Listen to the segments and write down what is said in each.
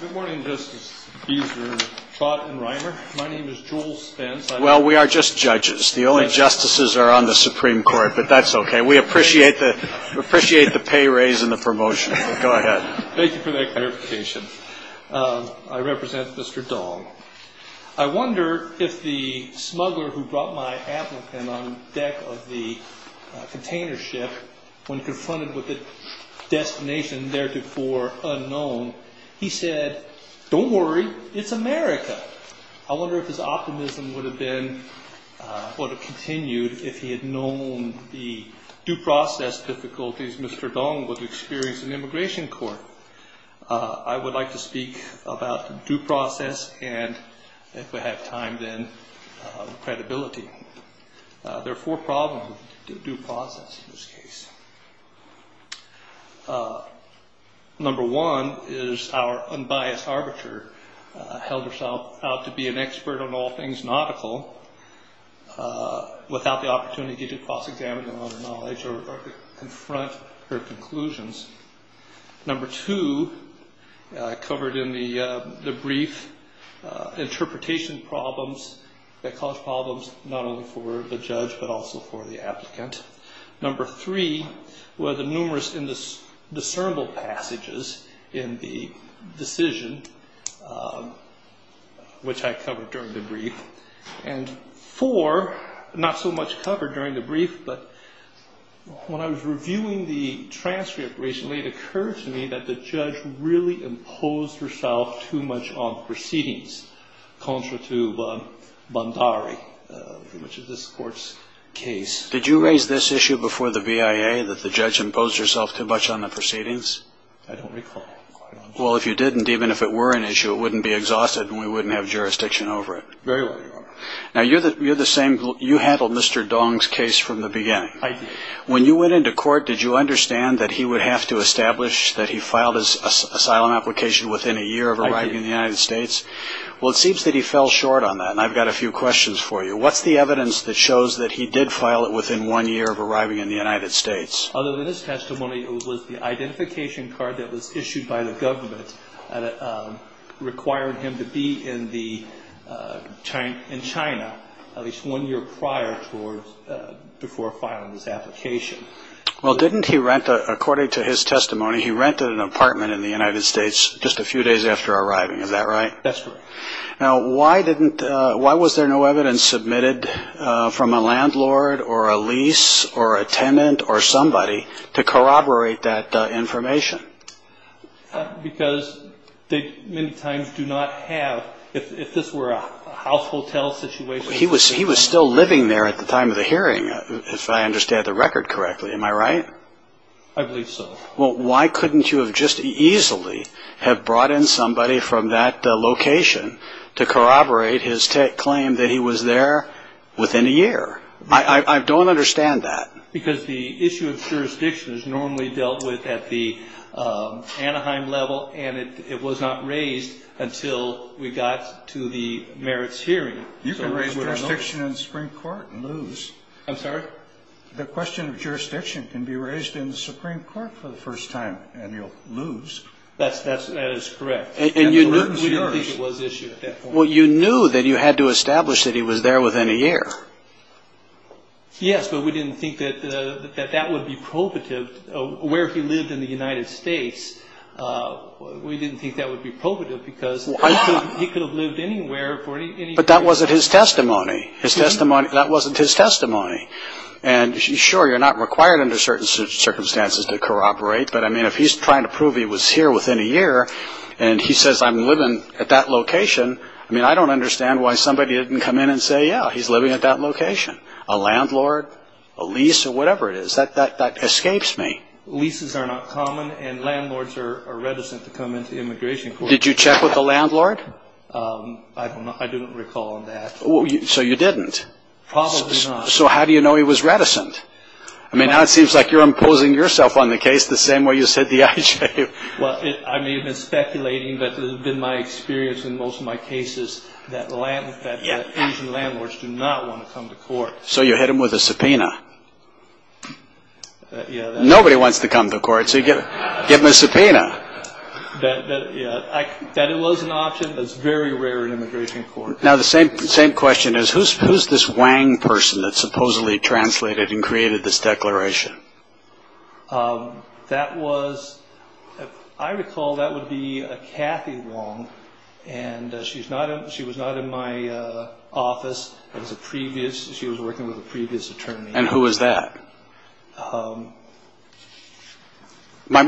Good morning, Justice Beeser, Trott, and Reimer. My name is Joel Spence. Well, we are just judges. The only justices are on the Supreme Court, but that's okay. We appreciate the pay raise and the promotion. Go ahead. Thank you for that clarification. I represent Mr. Dahl. I wonder if the smuggler who brought my applicant on deck of the container ship when confronted with a destination theretofore unknown, he said, don't worry, it's America. I wonder if his optimism would have continued if he had known the due process difficulties Mr. Dahl would experience in immigration court. I would like to speak about due process and, if we have time then, credibility. There are four problems with due process in this case. Number one is our unbiased arbiter held herself out to be an expert on all things nautical without the opportunity to cross-examine her knowledge or confront her conclusions. Number two, covered in the brief, interpretation problems that cause problems not only for the judge but also for the applicant. Number three, were the numerous discernible passages in the decision, which I covered during the brief. And four, not so much covered during the brief, but when I was reviewing the transcript recently, it occurred to me that the judge really imposed herself too much on proceedings contrary to Bandari, which is this court's case. Did you raise this issue before the BIA that the judge imposed herself too much on the proceedings? I don't recall. Well, if you didn't, even if it were an issue, it wouldn't be exhausted Very well, Your Honor. Now, you're the same. You handled Mr. Dong's case from the beginning. I did. When you went into court, did you understand that he would have to establish that he filed his asylum application within a year of arriving in the United States? I did. Well, it seems that he fell short on that, and I've got a few questions for you. What's the evidence that shows that he did file it within one year of arriving in the United States? Other than his testimony, it was the identification card that was issued by the government that required him to be in China at least one year prior before filing his application. Well, didn't he rent, according to his testimony, he rented an apartment in the United States just a few days after arriving. Is that right? That's correct. Now, why was there no evidence submitted from a landlord or a lease or a tenant or somebody to corroborate that information? Because they many times do not have, if this were a house-hotel situation. He was still living there at the time of the hearing, if I understand the record correctly. Am I right? I believe so. Well, why couldn't you have just easily have brought in somebody from that location to corroborate his claim that he was there within a year? I don't understand that. Because the issue of jurisdiction is normally dealt with at the Anaheim level and it was not raised until we got to the merits hearing. You can raise jurisdiction in the Supreme Court and lose. I'm sorry? The question of jurisdiction can be raised in the Supreme Court for the first time and you'll lose. That is correct. We didn't think it was issued at that point. Well, you knew that you had to establish that he was there within a year. Yes, but we didn't think that that would be probative. Where he lived in the United States, we didn't think that would be probative because he could have lived anywhere for any period of time. But that wasn't his testimony. That wasn't his testimony. And sure, you're not required under certain circumstances to corroborate, but I mean, if he's trying to prove he was here within a year and he says, I'm living at that location, I mean, I don't understand why somebody didn't come in and say, yeah, he's living at that location. A landlord, a lease, or whatever it is, that escapes me. Leases are not common and landlords are reticent to come into immigration court. Did you check with the landlord? I don't know. I didn't recall that. So you didn't? Probably not. So how do you know he was reticent? I mean, now it seems like you're imposing yourself on the case the same way you said the IJ. Well, I may have been speculating, but it has been my experience in most of my cases that Asian landlords do not want to come to court. So you hit them with a subpoena. Nobody wants to come to court, so you give them a subpoena. That was an option that's very rare in immigration court. Now the same question is, who's this Wang person that supposedly translated and created this declaration? That was, if I recall, that would be Kathy Wong, and she was not in my office. She was working with a previous attorney. And who was that? My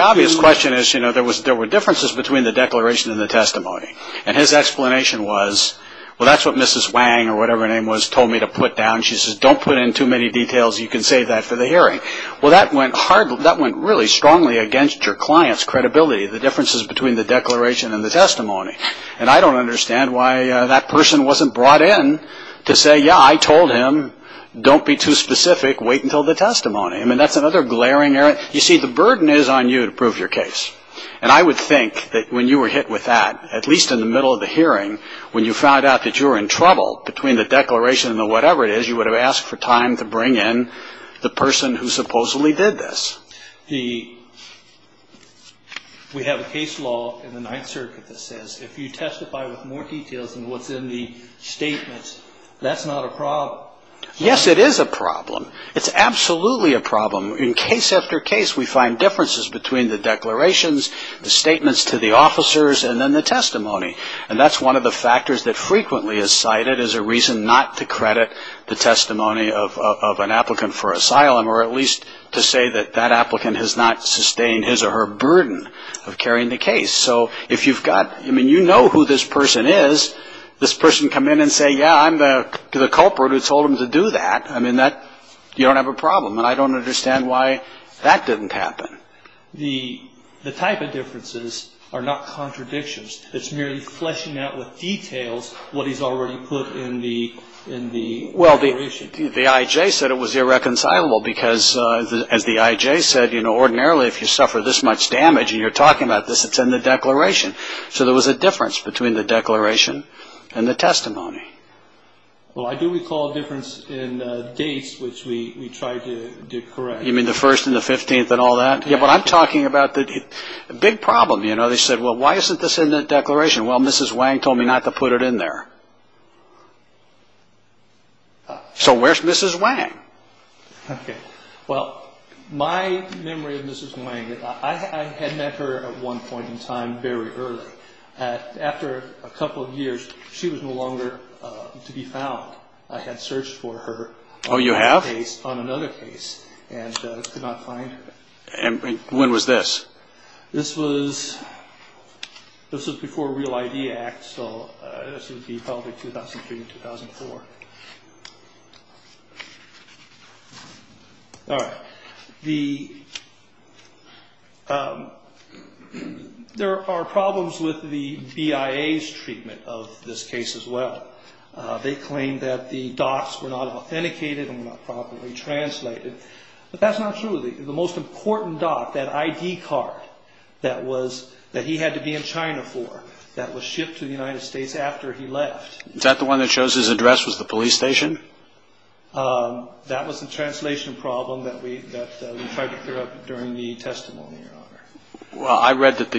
obvious question is, you know, there were differences between the declaration and the testimony, and his explanation was, well, that's what Mrs. Wang or whatever her name was told me to put down. And she says, don't put in too many details. You can save that for the hearing. Well, that went really strongly against your client's credibility, the differences between the declaration and the testimony. And I don't understand why that person wasn't brought in to say, yeah, I told him, don't be too specific. Wait until the testimony. I mean, that's another glaring error. You see, the burden is on you to prove your case. And I would think that when you were hit with that, at least in the middle of the hearing, when you found out that you were in trouble between the declaration and the whatever it is, you would have asked for time to bring in the person who supposedly did this. We have a case law in the Ninth Circuit that says if you testify with more details than what's in the statements, that's not a problem. Yes, it is a problem. It's absolutely a problem. In case after case, we find differences between the declarations, the statements to the officers, and then the testimony. And that's one of the factors that frequently is cited as a reason not to credit the testimony of an applicant for asylum, or at least to say that that applicant has not sustained his or her burden of carrying the case. So if you've got, I mean, you know who this person is, this person come in and say, yeah, I'm the culprit who told him to do that. I mean, you don't have a problem. And I don't understand why that didn't happen. The type of differences are not contradictions. It's merely fleshing out with details what he's already put in the declaration. Well, the I.J. said it was irreconcilable because, as the I.J. said, you know, ordinarily if you suffer this much damage and you're talking about this, it's in the declaration. So there was a difference between the declaration and the testimony. Well, I do recall a difference in dates, which we tried to correct. You mean the 1st and the 15th and all that? Yeah, but I'm talking about the big problem. You know, they said, well, why isn't this in the declaration? Well, Mrs. Wang told me not to put it in there. So where's Mrs. Wang? Well, my memory of Mrs. Wang, I had met her at one point in time very early. After a couple of years, she was no longer to be found. I had searched for her. Oh, you have? On another case and could not find her. And when was this? This was before Real ID Act, so this would be probably 2003 or 2004. All right. There are problems with the BIA's treatment of this case as well. They claim that the docs were not authenticated and were not properly translated. But that's not true. The most important doc, that ID card that he had to be in China for, that was shipped to the United States after he left. Is that the one that shows his address was the police station? That was the translation problem that we tried to clear up during the testimony, Your Honor. Well, I read that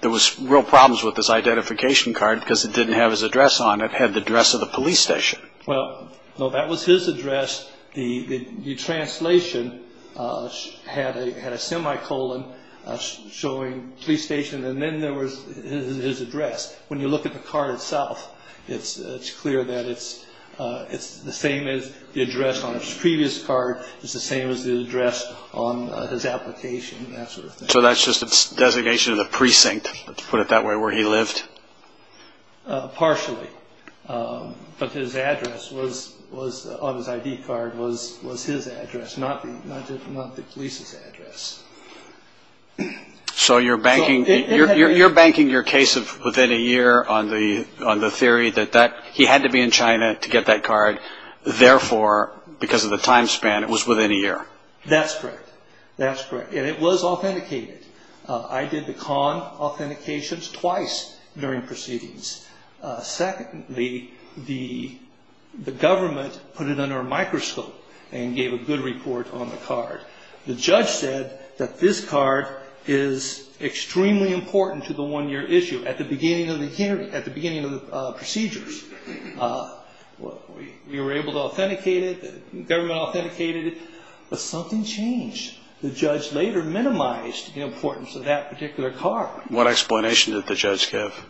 there was real problems with this identification card because it didn't have his address on it. It had the address of the police station. Well, that was his address. The translation had a semicolon showing police station and then there was his address. When you look at the card itself, it's clear that it's the same as the address on his previous card. It's the same as the address on his application and that sort of thing. So that's just a designation of the precinct, let's put it that way, where he lived? Partially. But his address on his ID card was his address, not the police's address. So you're banking your case of within a year on the theory that he had to be in China to get that card. Therefore, because of the time span, it was within a year. That's correct. That's correct. And it was authenticated. I did the con authentications twice during proceedings. Secondly, the government put it under a microscope and gave a good report on the card. The judge said that this card is extremely important to the one-year issue at the beginning of the hearing, at the beginning of the procedures. We were able to authenticate it. The government authenticated it. But something changed. The judge later minimized the importance of that particular card. What explanation did the judge give?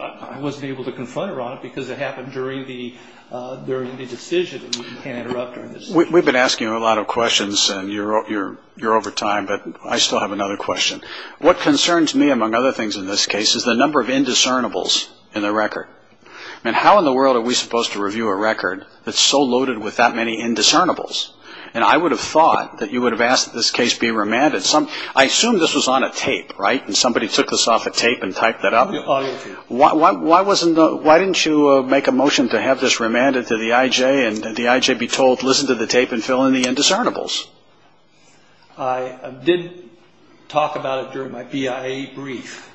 I wasn't able to confront her on it because it happened during the decision. We've been asking her a lot of questions, and you're over time, but I still have another question. What concerns me, among other things in this case, is the number of indiscernibles in the record. I mean, how in the world are we supposed to review a record that's so loaded with that many indiscernibles? And I would have thought that you would have asked this case be remanded. I assume this was on a tape, right? And somebody took this off a tape and typed that up. Why didn't you make a motion to have this remanded to the I.J. and the I.J. be told, listen to the tape and fill in the indiscernibles? I did talk about it during my BIA brief.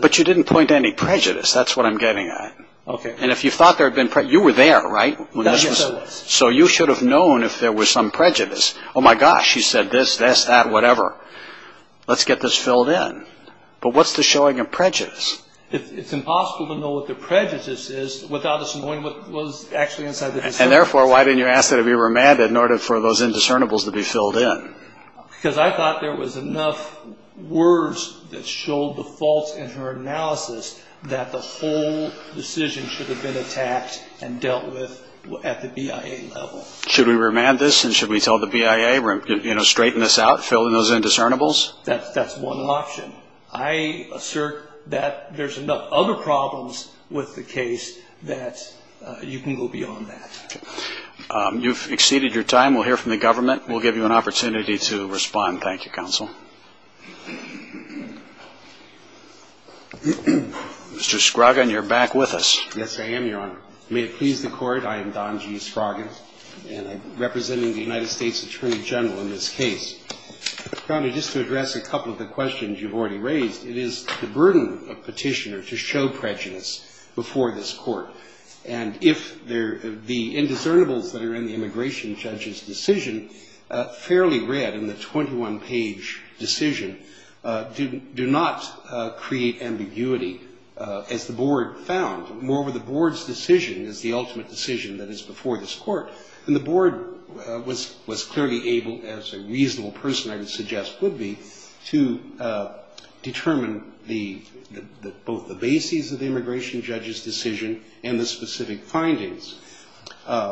But you didn't point to any prejudice. That's what I'm getting at. Okay. And if you thought there had been prejudice, you were there, right? Yes, I was. So you should have known if there was some prejudice. Oh, my gosh, you said this, this, that, whatever. Let's get this filled in. But what's the showing of prejudice? It's impossible to know what the prejudice is without us knowing what was actually inside the discernible. And therefore, why didn't you ask that it be remanded in order for those indiscernibles to be filled in? Because I thought there was enough words that showed the faults in her analysis that the whole decision should have been attacked and dealt with at the BIA level. Should we remand this and should we tell the BIA, you know, straighten this out, fill in those indiscernibles? That's one option. I assert that there's enough other problems with the case that you can go beyond that. Okay. You've exceeded your time. We'll hear from the government. We'll give you an opportunity to respond. Thank you, Counsel. Mr. Scroggin, you're back with us. Yes, I am, Your Honor. May it please the Court, I am Don G. Scroggin, and I'm representing the United States Attorney General in this case. Your Honor, just to address a couple of the questions you've already raised, it is the burden of petitioner to show prejudice before this Court. And if the indiscernibles that are in the immigration judge's decision, fairly read in the 21-page decision, do not create ambiguity, as the Board found. Moreover, the Board's decision is the ultimate decision that is before this Court. And the Board was clearly able, as a reasonable person I would suggest would be, to determine both the bases of the immigration judge's decision and the specific findings.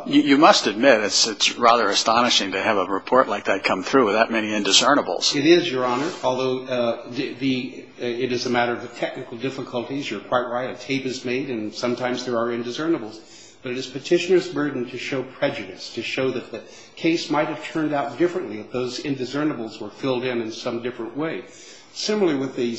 You must admit it's rather astonishing to have a report like that come through with that many indiscernibles. It is, Your Honor, although it is a matter of the technical difficulties. You're quite right. A tape is made and sometimes there are indiscernibles. But it is petitioner's burden to show prejudice, to show that the case might have turned out differently if those indiscernibles were filled in in some different way. Similarly, with the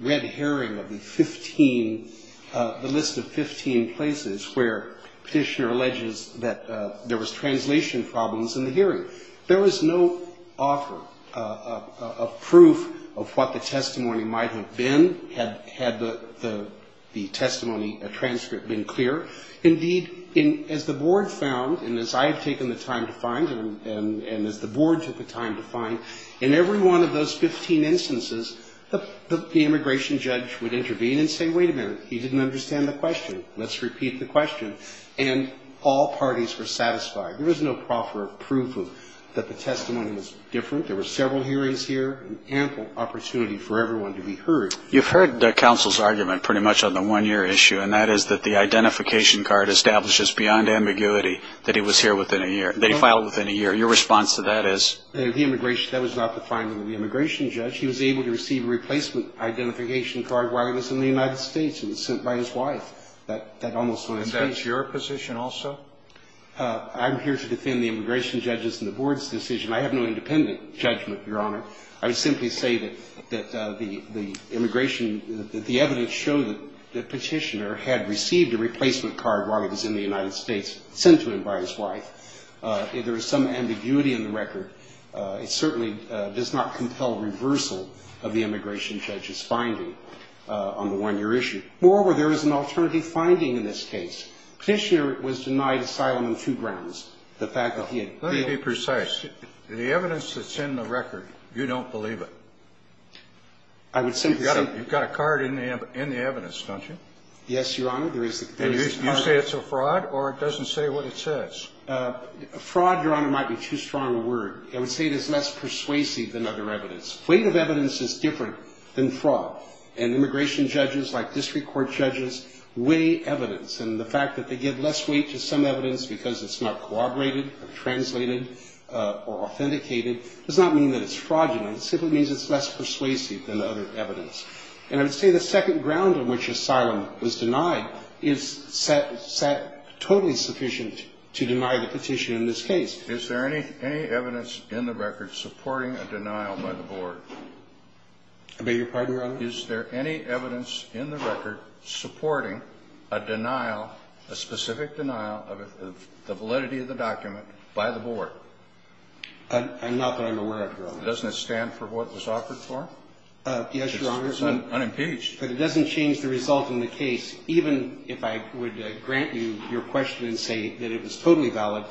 red herring of the 15, the list of 15 places where petitioner alleges that there was translation problems in the hearing. There was no offer of proof of what the testimony might have been had the testimony transcript been clear. Indeed, as the Board found, and as I have taken the time to find, and as the Board took the time to find, in every one of those 15 instances, the immigration judge would intervene and say, wait a minute, he didn't understand the question. Let's repeat the question. And all parties were satisfied. There was no offer of proof that the testimony was different. There were several hearings here, an ample opportunity for everyone to be heard. You've heard counsel's argument pretty much on the one-year issue, and that is that the identification card establishes beyond ambiguity that he was here within a year, that he filed within a year. Your response to that is? That was not the finding of the immigration judge. He was able to receive a replacement identification card while he was in the United States, and it was sent by his wife. And that's your position also? I'm here to defend the immigration judge's and the Board's decision. I have no independent judgment, Your Honor. I would simply say that the immigration – that the evidence showed that Petitioner had received a replacement card while he was in the United States, sent to him by his wife. If there is some ambiguity in the record, it certainly does not compel reversal of the immigration judge's finding on the one-year issue. Moreover, there is an alternative finding in this case. Petitioner was denied asylum on two grounds. The fact that he had been – Let me be precise. The evidence that's in the record, you don't believe it? I would simply say – You've got a card in the evidence, don't you? Yes, Your Honor. You say it's a fraud, or it doesn't say what it says? Fraud, Your Honor, might be too strong a word. I would say it is less persuasive than other evidence. Weight of evidence is different than fraud. And immigration judges, like district court judges, weigh evidence. And the fact that they give less weight to some evidence because it's not corroborated or translated or authenticated does not mean that it's fraudulent. It simply means it's less persuasive than other evidence. And I would say the second ground on which asylum was denied is totally sufficient to deny the petition in this case. Is there any evidence in the record supporting a denial by the board? I beg your pardon, Your Honor? Is there any evidence in the record supporting a denial, a specific denial of the validity of the document by the board? I'm not that I'm aware of, Your Honor. Doesn't it stand for what was offered for? Yes, Your Honor. It's unimpeached. But it doesn't change the result in the case, even if I would grant you your question and say that it was totally valid.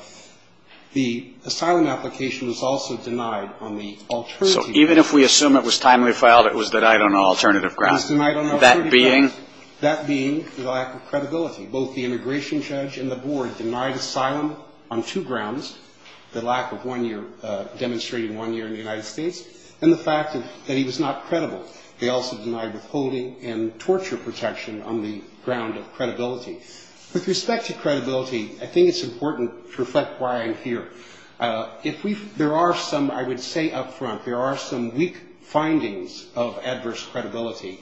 The asylum application was also denied on the alternative. So even if we assume it was timely filed, it was denied on an alternative ground. It was denied on an alternative ground. That being? That being the lack of credibility. Both the immigration judge and the board denied asylum on two grounds, the lack of one year, demonstrating one year in the United States, and the fact that he was not credible. They also denied withholding and torture protection on the ground of credibility. With respect to credibility, I think it's important to reflect why I'm here. There are some, I would say up front, there are some weak findings of adverse credibility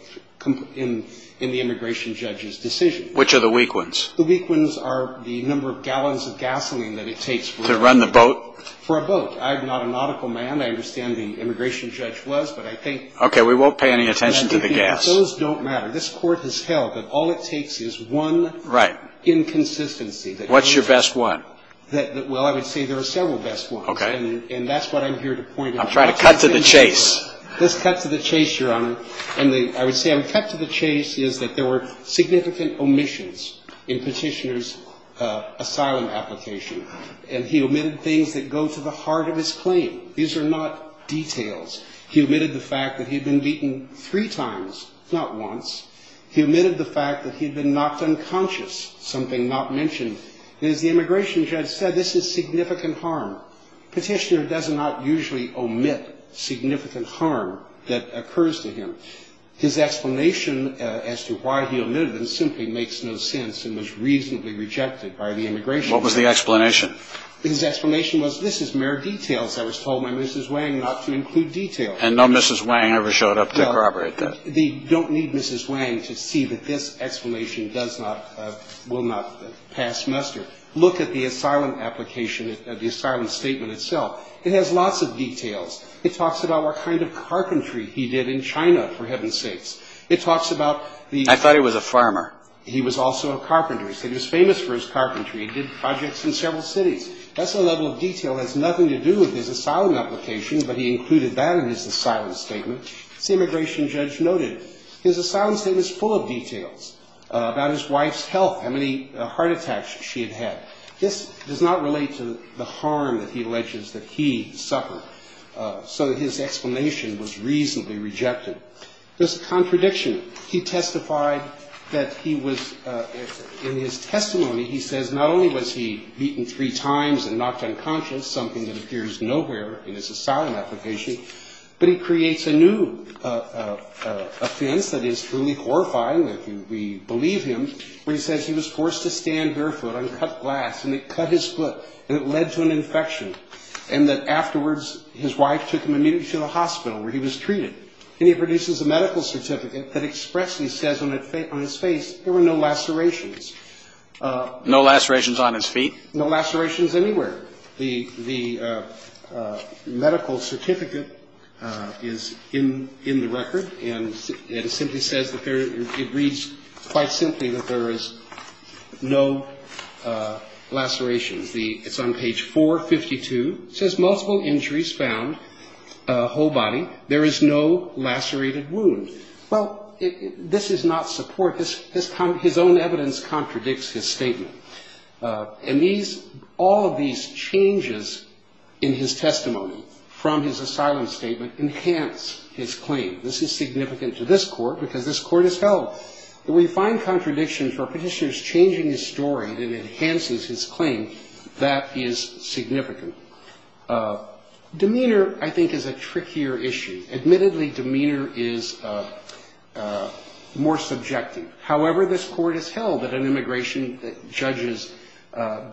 in the immigration judge's decision. Which are the weak ones? The weak ones are the number of gallons of gasoline that it takes for a boat. To run the boat? For a boat. I'm not an auditable man. I understand the immigration judge was, but I think. Okay, we won't pay any attention to the gas. Those don't matter. This Court has held that all it takes is one. Right. Inconsistency. What's your best one? Well, I would say there are several best ones. Okay. And that's what I'm here to point out. I'm trying to cut to the chase. Let's cut to the chase, Your Honor. And I would say I would cut to the chase is that there were significant omissions in Petitioner's asylum application. And he omitted things that go to the heart of his claim. These are not details. He omitted the fact that he had been beaten three times, not once. He omitted the fact that he had been knocked unconscious, something not mentioned. And as the immigration judge said, this is significant harm. Petitioner does not usually omit significant harm that occurs to him. His explanation as to why he omitted it simply makes no sense and was reasonably rejected by the immigration judge. What was the explanation? His explanation was this is mere details. I was told by Mrs. Wang not to include details. And no Mrs. Wang ever showed up to corroborate that. But they don't need Mrs. Wang to see that this explanation does not, will not pass muster. Look at the asylum application, the asylum statement itself. It has lots of details. It talks about what kind of carpentry he did in China, for heaven's sakes. It talks about the ---- I thought he was a farmer. He was also a carpenter. He said he was famous for his carpentry. He did projects in several cities. That's a level of detail that has nothing to do with his asylum application, but he included that in his asylum statement. As the immigration judge noted, his asylum statement is full of details about his wife's health, how many heart attacks she had had. This does not relate to the harm that he alleges that he suffered. So his explanation was reasonably rejected. There's a contradiction. He testified that he was, in his testimony, he says not only was he beaten three times and knocked unconscious, something that appears nowhere in his asylum application, but he creates a new offense that is truly horrifying, if we believe him, where he says he was forced to stand barefoot on cut glass and it cut his foot and it led to an infection and that afterwards his wife took him immediately to the hospital where he was treated. And he produces a medical certificate that expressly says on his face there were no lacerations. No lacerations on his feet? No lacerations anywhere. The medical certificate is in the record and it simply says that there, it reads quite simply that there is no lacerations. It's on page 452. It says multiple injuries found, whole body. There is no lacerated wound. Well, this is not support. His own evidence contradicts his statement. And these, all of these changes in his testimony from his asylum statement enhance his claim. This is significant to this court because this court has held that we find contradiction for petitioners changing his story that enhances his claim. That is significant. Demeanor, I think, is a trickier issue. Admittedly, demeanor is more subjective. However, this court has held that an immigration judge's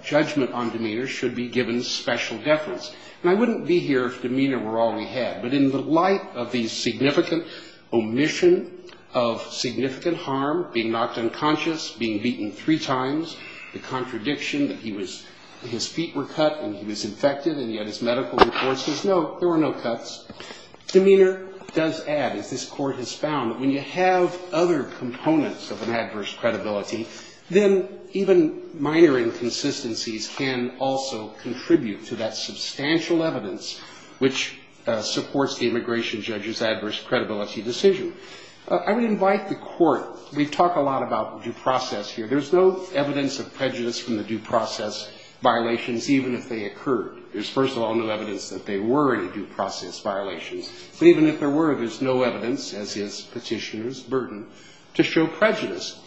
judgment on demeanor should be given special deference. And I wouldn't be here if demeanor were all we had. But in the light of the significant omission of significant harm, being knocked unconscious, being beaten three times, the contradiction that he was, his feet were cut and he was infected Demeanor does add, as this court has found, that when you have other components of an adverse credibility, then even minor inconsistencies can also contribute to that substantial evidence which supports the immigration judge's adverse credibility decision. I would invite the court. We talk a lot about due process here. There's no evidence of prejudice from the due process violations, even if they occurred. There's, first of all, no evidence that there were any due process violations. But even if there were, there's no evidence, as is petitioner's burden, to show prejudice.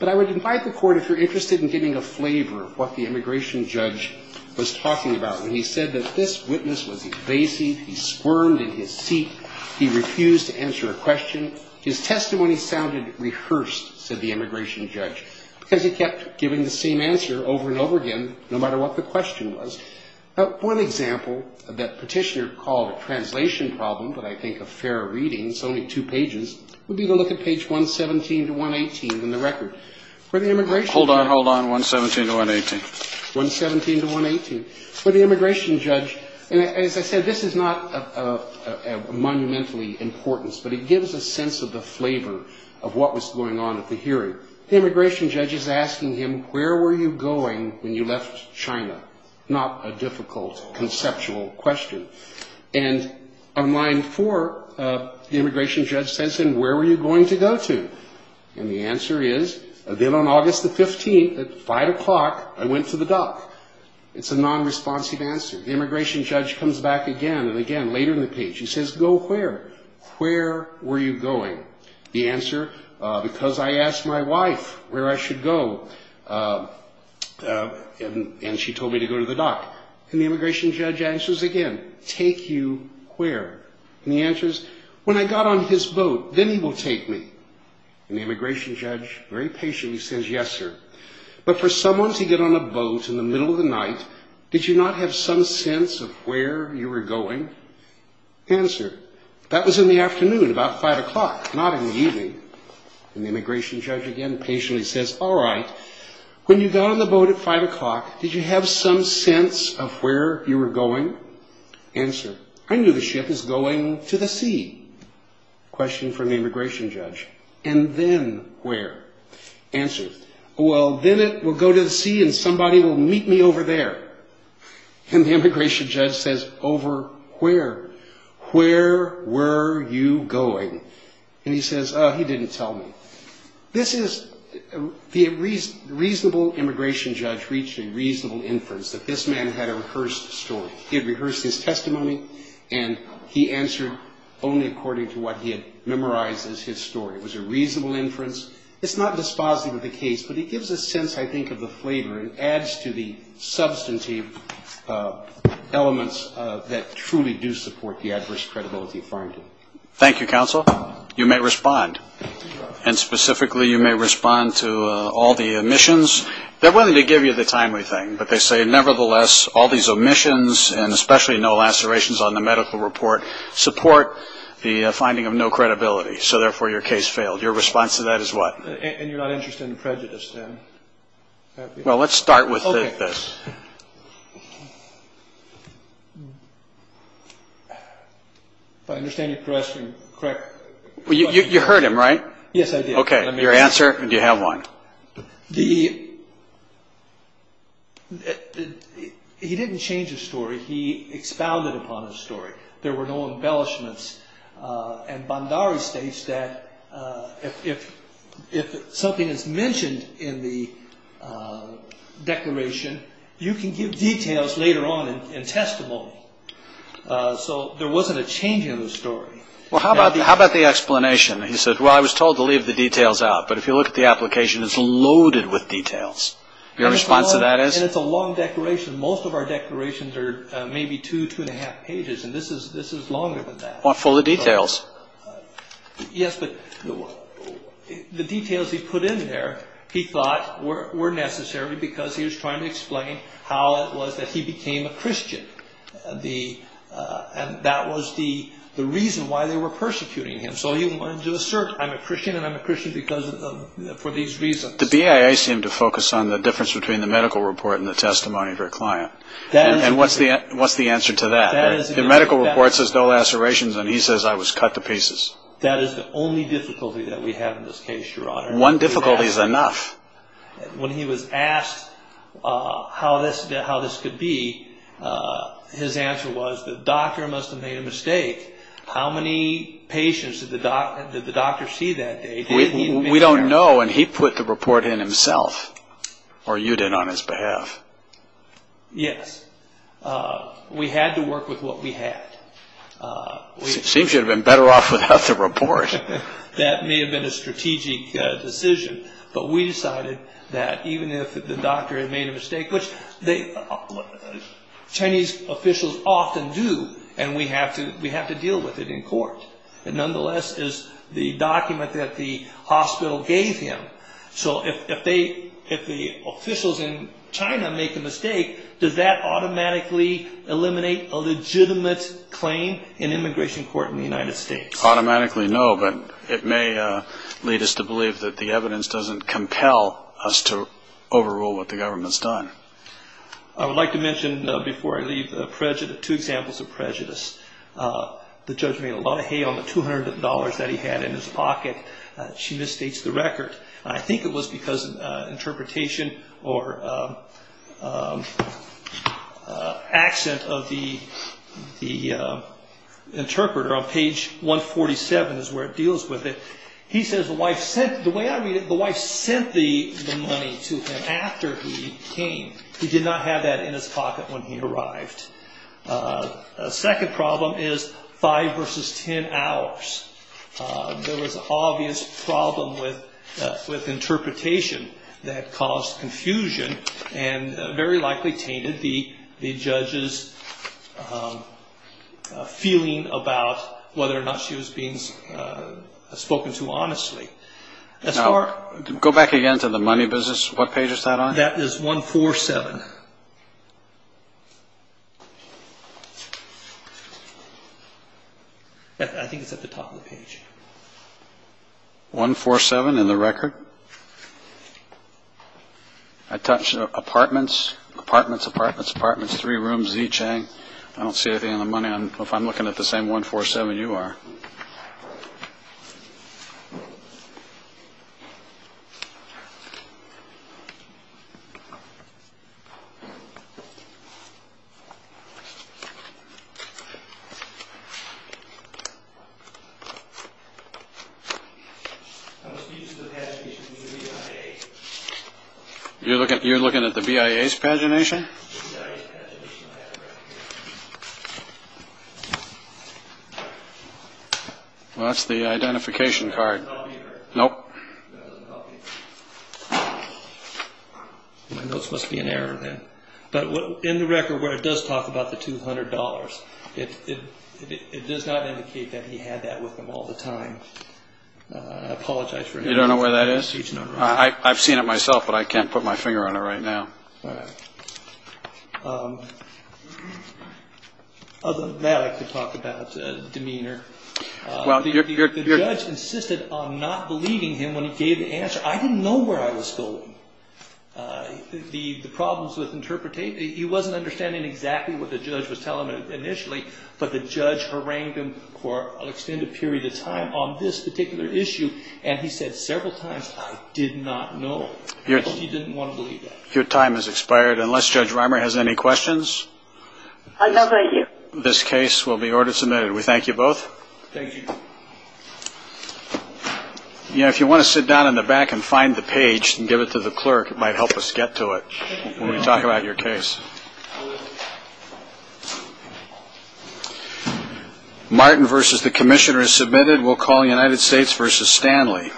But I would invite the court, if you're interested in getting a flavor of what the immigration judge was talking about when he said that this witness was evasive, he squirmed in his seat, he refused to answer a question, his testimony sounded rehearsed, said the immigration judge, because he kept giving the same answer over and over again, no matter what the question was. One example that petitioner called a translation problem, but I think a fair reading, it's only two pages, would be to look at page 117 to 118 in the record. Where the immigration judge... Hold on, hold on, 117 to 118. 117 to 118. Where the immigration judge, and as I said, this is not of monumentally importance, but it gives a sense of the flavor of what was going on at the hearing. The immigration judge is asking him, where were you going when you left China? Not a difficult conceptual question. And on line four, the immigration judge says, and where were you going to go to? And the answer is, then on August the 15th, at 5 o'clock, I went to the dock. It's a non-responsive answer. The immigration judge comes back again, and again, later in the page, he says, go where? Where were you going? The answer, because I asked my wife where I should go. And she told me to go to the dock. And the immigration judge answers again, take you where? And the answer is, when I got on his boat, then he will take me. And the immigration judge, very patiently, says, yes, sir. But for someone to get on a boat in the middle of the night, did you not have some sense of where you were going? Answer, that was in the afternoon, about 5 o'clock, not in the evening. And the immigration judge, again, patiently says, all right, when you got on the boat at 5 o'clock, did you have some sense of where you were going? Answer, I knew the ship was going to the sea. Question from the immigration judge, and then where? Answer, well, then it will go to the sea, and somebody will meet me over there. And the immigration judge says, over where? Where were you going? And he says, he didn't tell me. This is, the reasonable immigration judge reached a reasonable inference that this man had a rehearsed story. He had rehearsed his testimony, and he answered only according to what he had memorized as his story. It was a reasonable inference. It's not dispositive of the case, but it gives a sense, I think, of the flavor. It adds to the substantive elements that truly do support the adverse credibility finding. Thank you, counsel. You may respond. And specifically, you may respond to all the omissions. They're willing to give you the timely thing, but they say, nevertheless, all these omissions and especially no lacerations on the medical report support the finding of no credibility, so therefore your case failed. Your response to that is what? And you're not interested in prejudice, then? Well, let's start with this. If I understand your question correctly. You heard him, right? Yes, I did. Okay. Your answer? Do you have one? He didn't change his story. He expounded upon his story. There were no embellishments. And Bondari states that if something is mentioned in the declaration, you can give details later on in testimony. So there wasn't a change in the story. Well, how about the explanation? He said, well, I was told to leave the details out, but if you look at the application, it's loaded with details. Your response to that is? And it's a long declaration. Most of our declarations are maybe two, two and a half pages, and this is longer than that. Well, full of details. Yes, but the details he put in there, he thought, were necessary because he was trying to explain how it was that he became a Christian. And that was the reason why they were persecuting him. So he wanted to assert, I'm a Christian, and I'm a Christian for these reasons. The BIA seemed to focus on the difference between the medical report and the testimony of your client. And what's the answer to that? The medical report says no lacerations, and he says I was cut to pieces. That is the only difficulty that we have in this case, Your Honor. One difficulty is enough. When he was asked how this could be, his answer was the doctor must have made a mistake. How many patients did the doctor see that day? We don't know, and he put the report in himself, or you did on his behalf. Yes. We had to work with what we had. Seems you would have been better off without the report. That may have been a strategic decision. But we decided that even if the doctor had made a mistake, which Chinese officials often do, and we have to deal with it in court, it nonetheless is the document that the hospital gave him. So if the officials in China make a mistake, does that automatically eliminate a legitimate claim in immigration court in the United States? Automatically no, but it may lead us to believe that the evidence doesn't compel us to overrule what the government's done. I would like to mention before I leave two examples of prejudice. The judge made a lot of hay on the $200 that he had in his pocket. She misstates the record. I think it was because of interpretation or accent of the interpreter. On page 147 is where it deals with it. He says the wife sent the money to him after he came. He did not have that in his pocket when he arrived. A second problem is five versus ten hours. There was an obvious problem with interpretation that caused confusion and very likely tainted the judge's feeling about whether or not she was being spoken to honestly. Go back again to the money business. What page is that on? That is 147. I think it's at the top of the page. 147 in the record. I touched apartments, apartments, apartments, apartments, three rooms, Z Chang. I don't see anything in the money. If I'm looking at the same 147 you are. I don't see anything in the money. You're looking at the BIA's pagination? That's the identification card. Nope. That doesn't help me. My notes must be in error then. But in the record where it does talk about the $200, it does not indicate that he had that with him all the time. I apologize for that. You don't know where that is? I've seen it myself but I can't put my finger on it right now. Other than that I could talk about demeanor. The judge insisted on not believing him when he gave the answer. I didn't know where I was going. The problems with interpretation, he wasn't understanding exactly what the judge was telling him initially, but the judge harangued him for an extended period of time on this particular issue, and he said several times, I did not know. He didn't want to believe that. Your time has expired. Unless Judge Reimer has any questions, this case will be order submitted. We thank you both. Thank you. If you want to sit down in the back and find the page and give it to the clerk, it might help us get to it when we talk about your case. Martin v. The Commissioner is submitted. We'll call United States v. Stanley.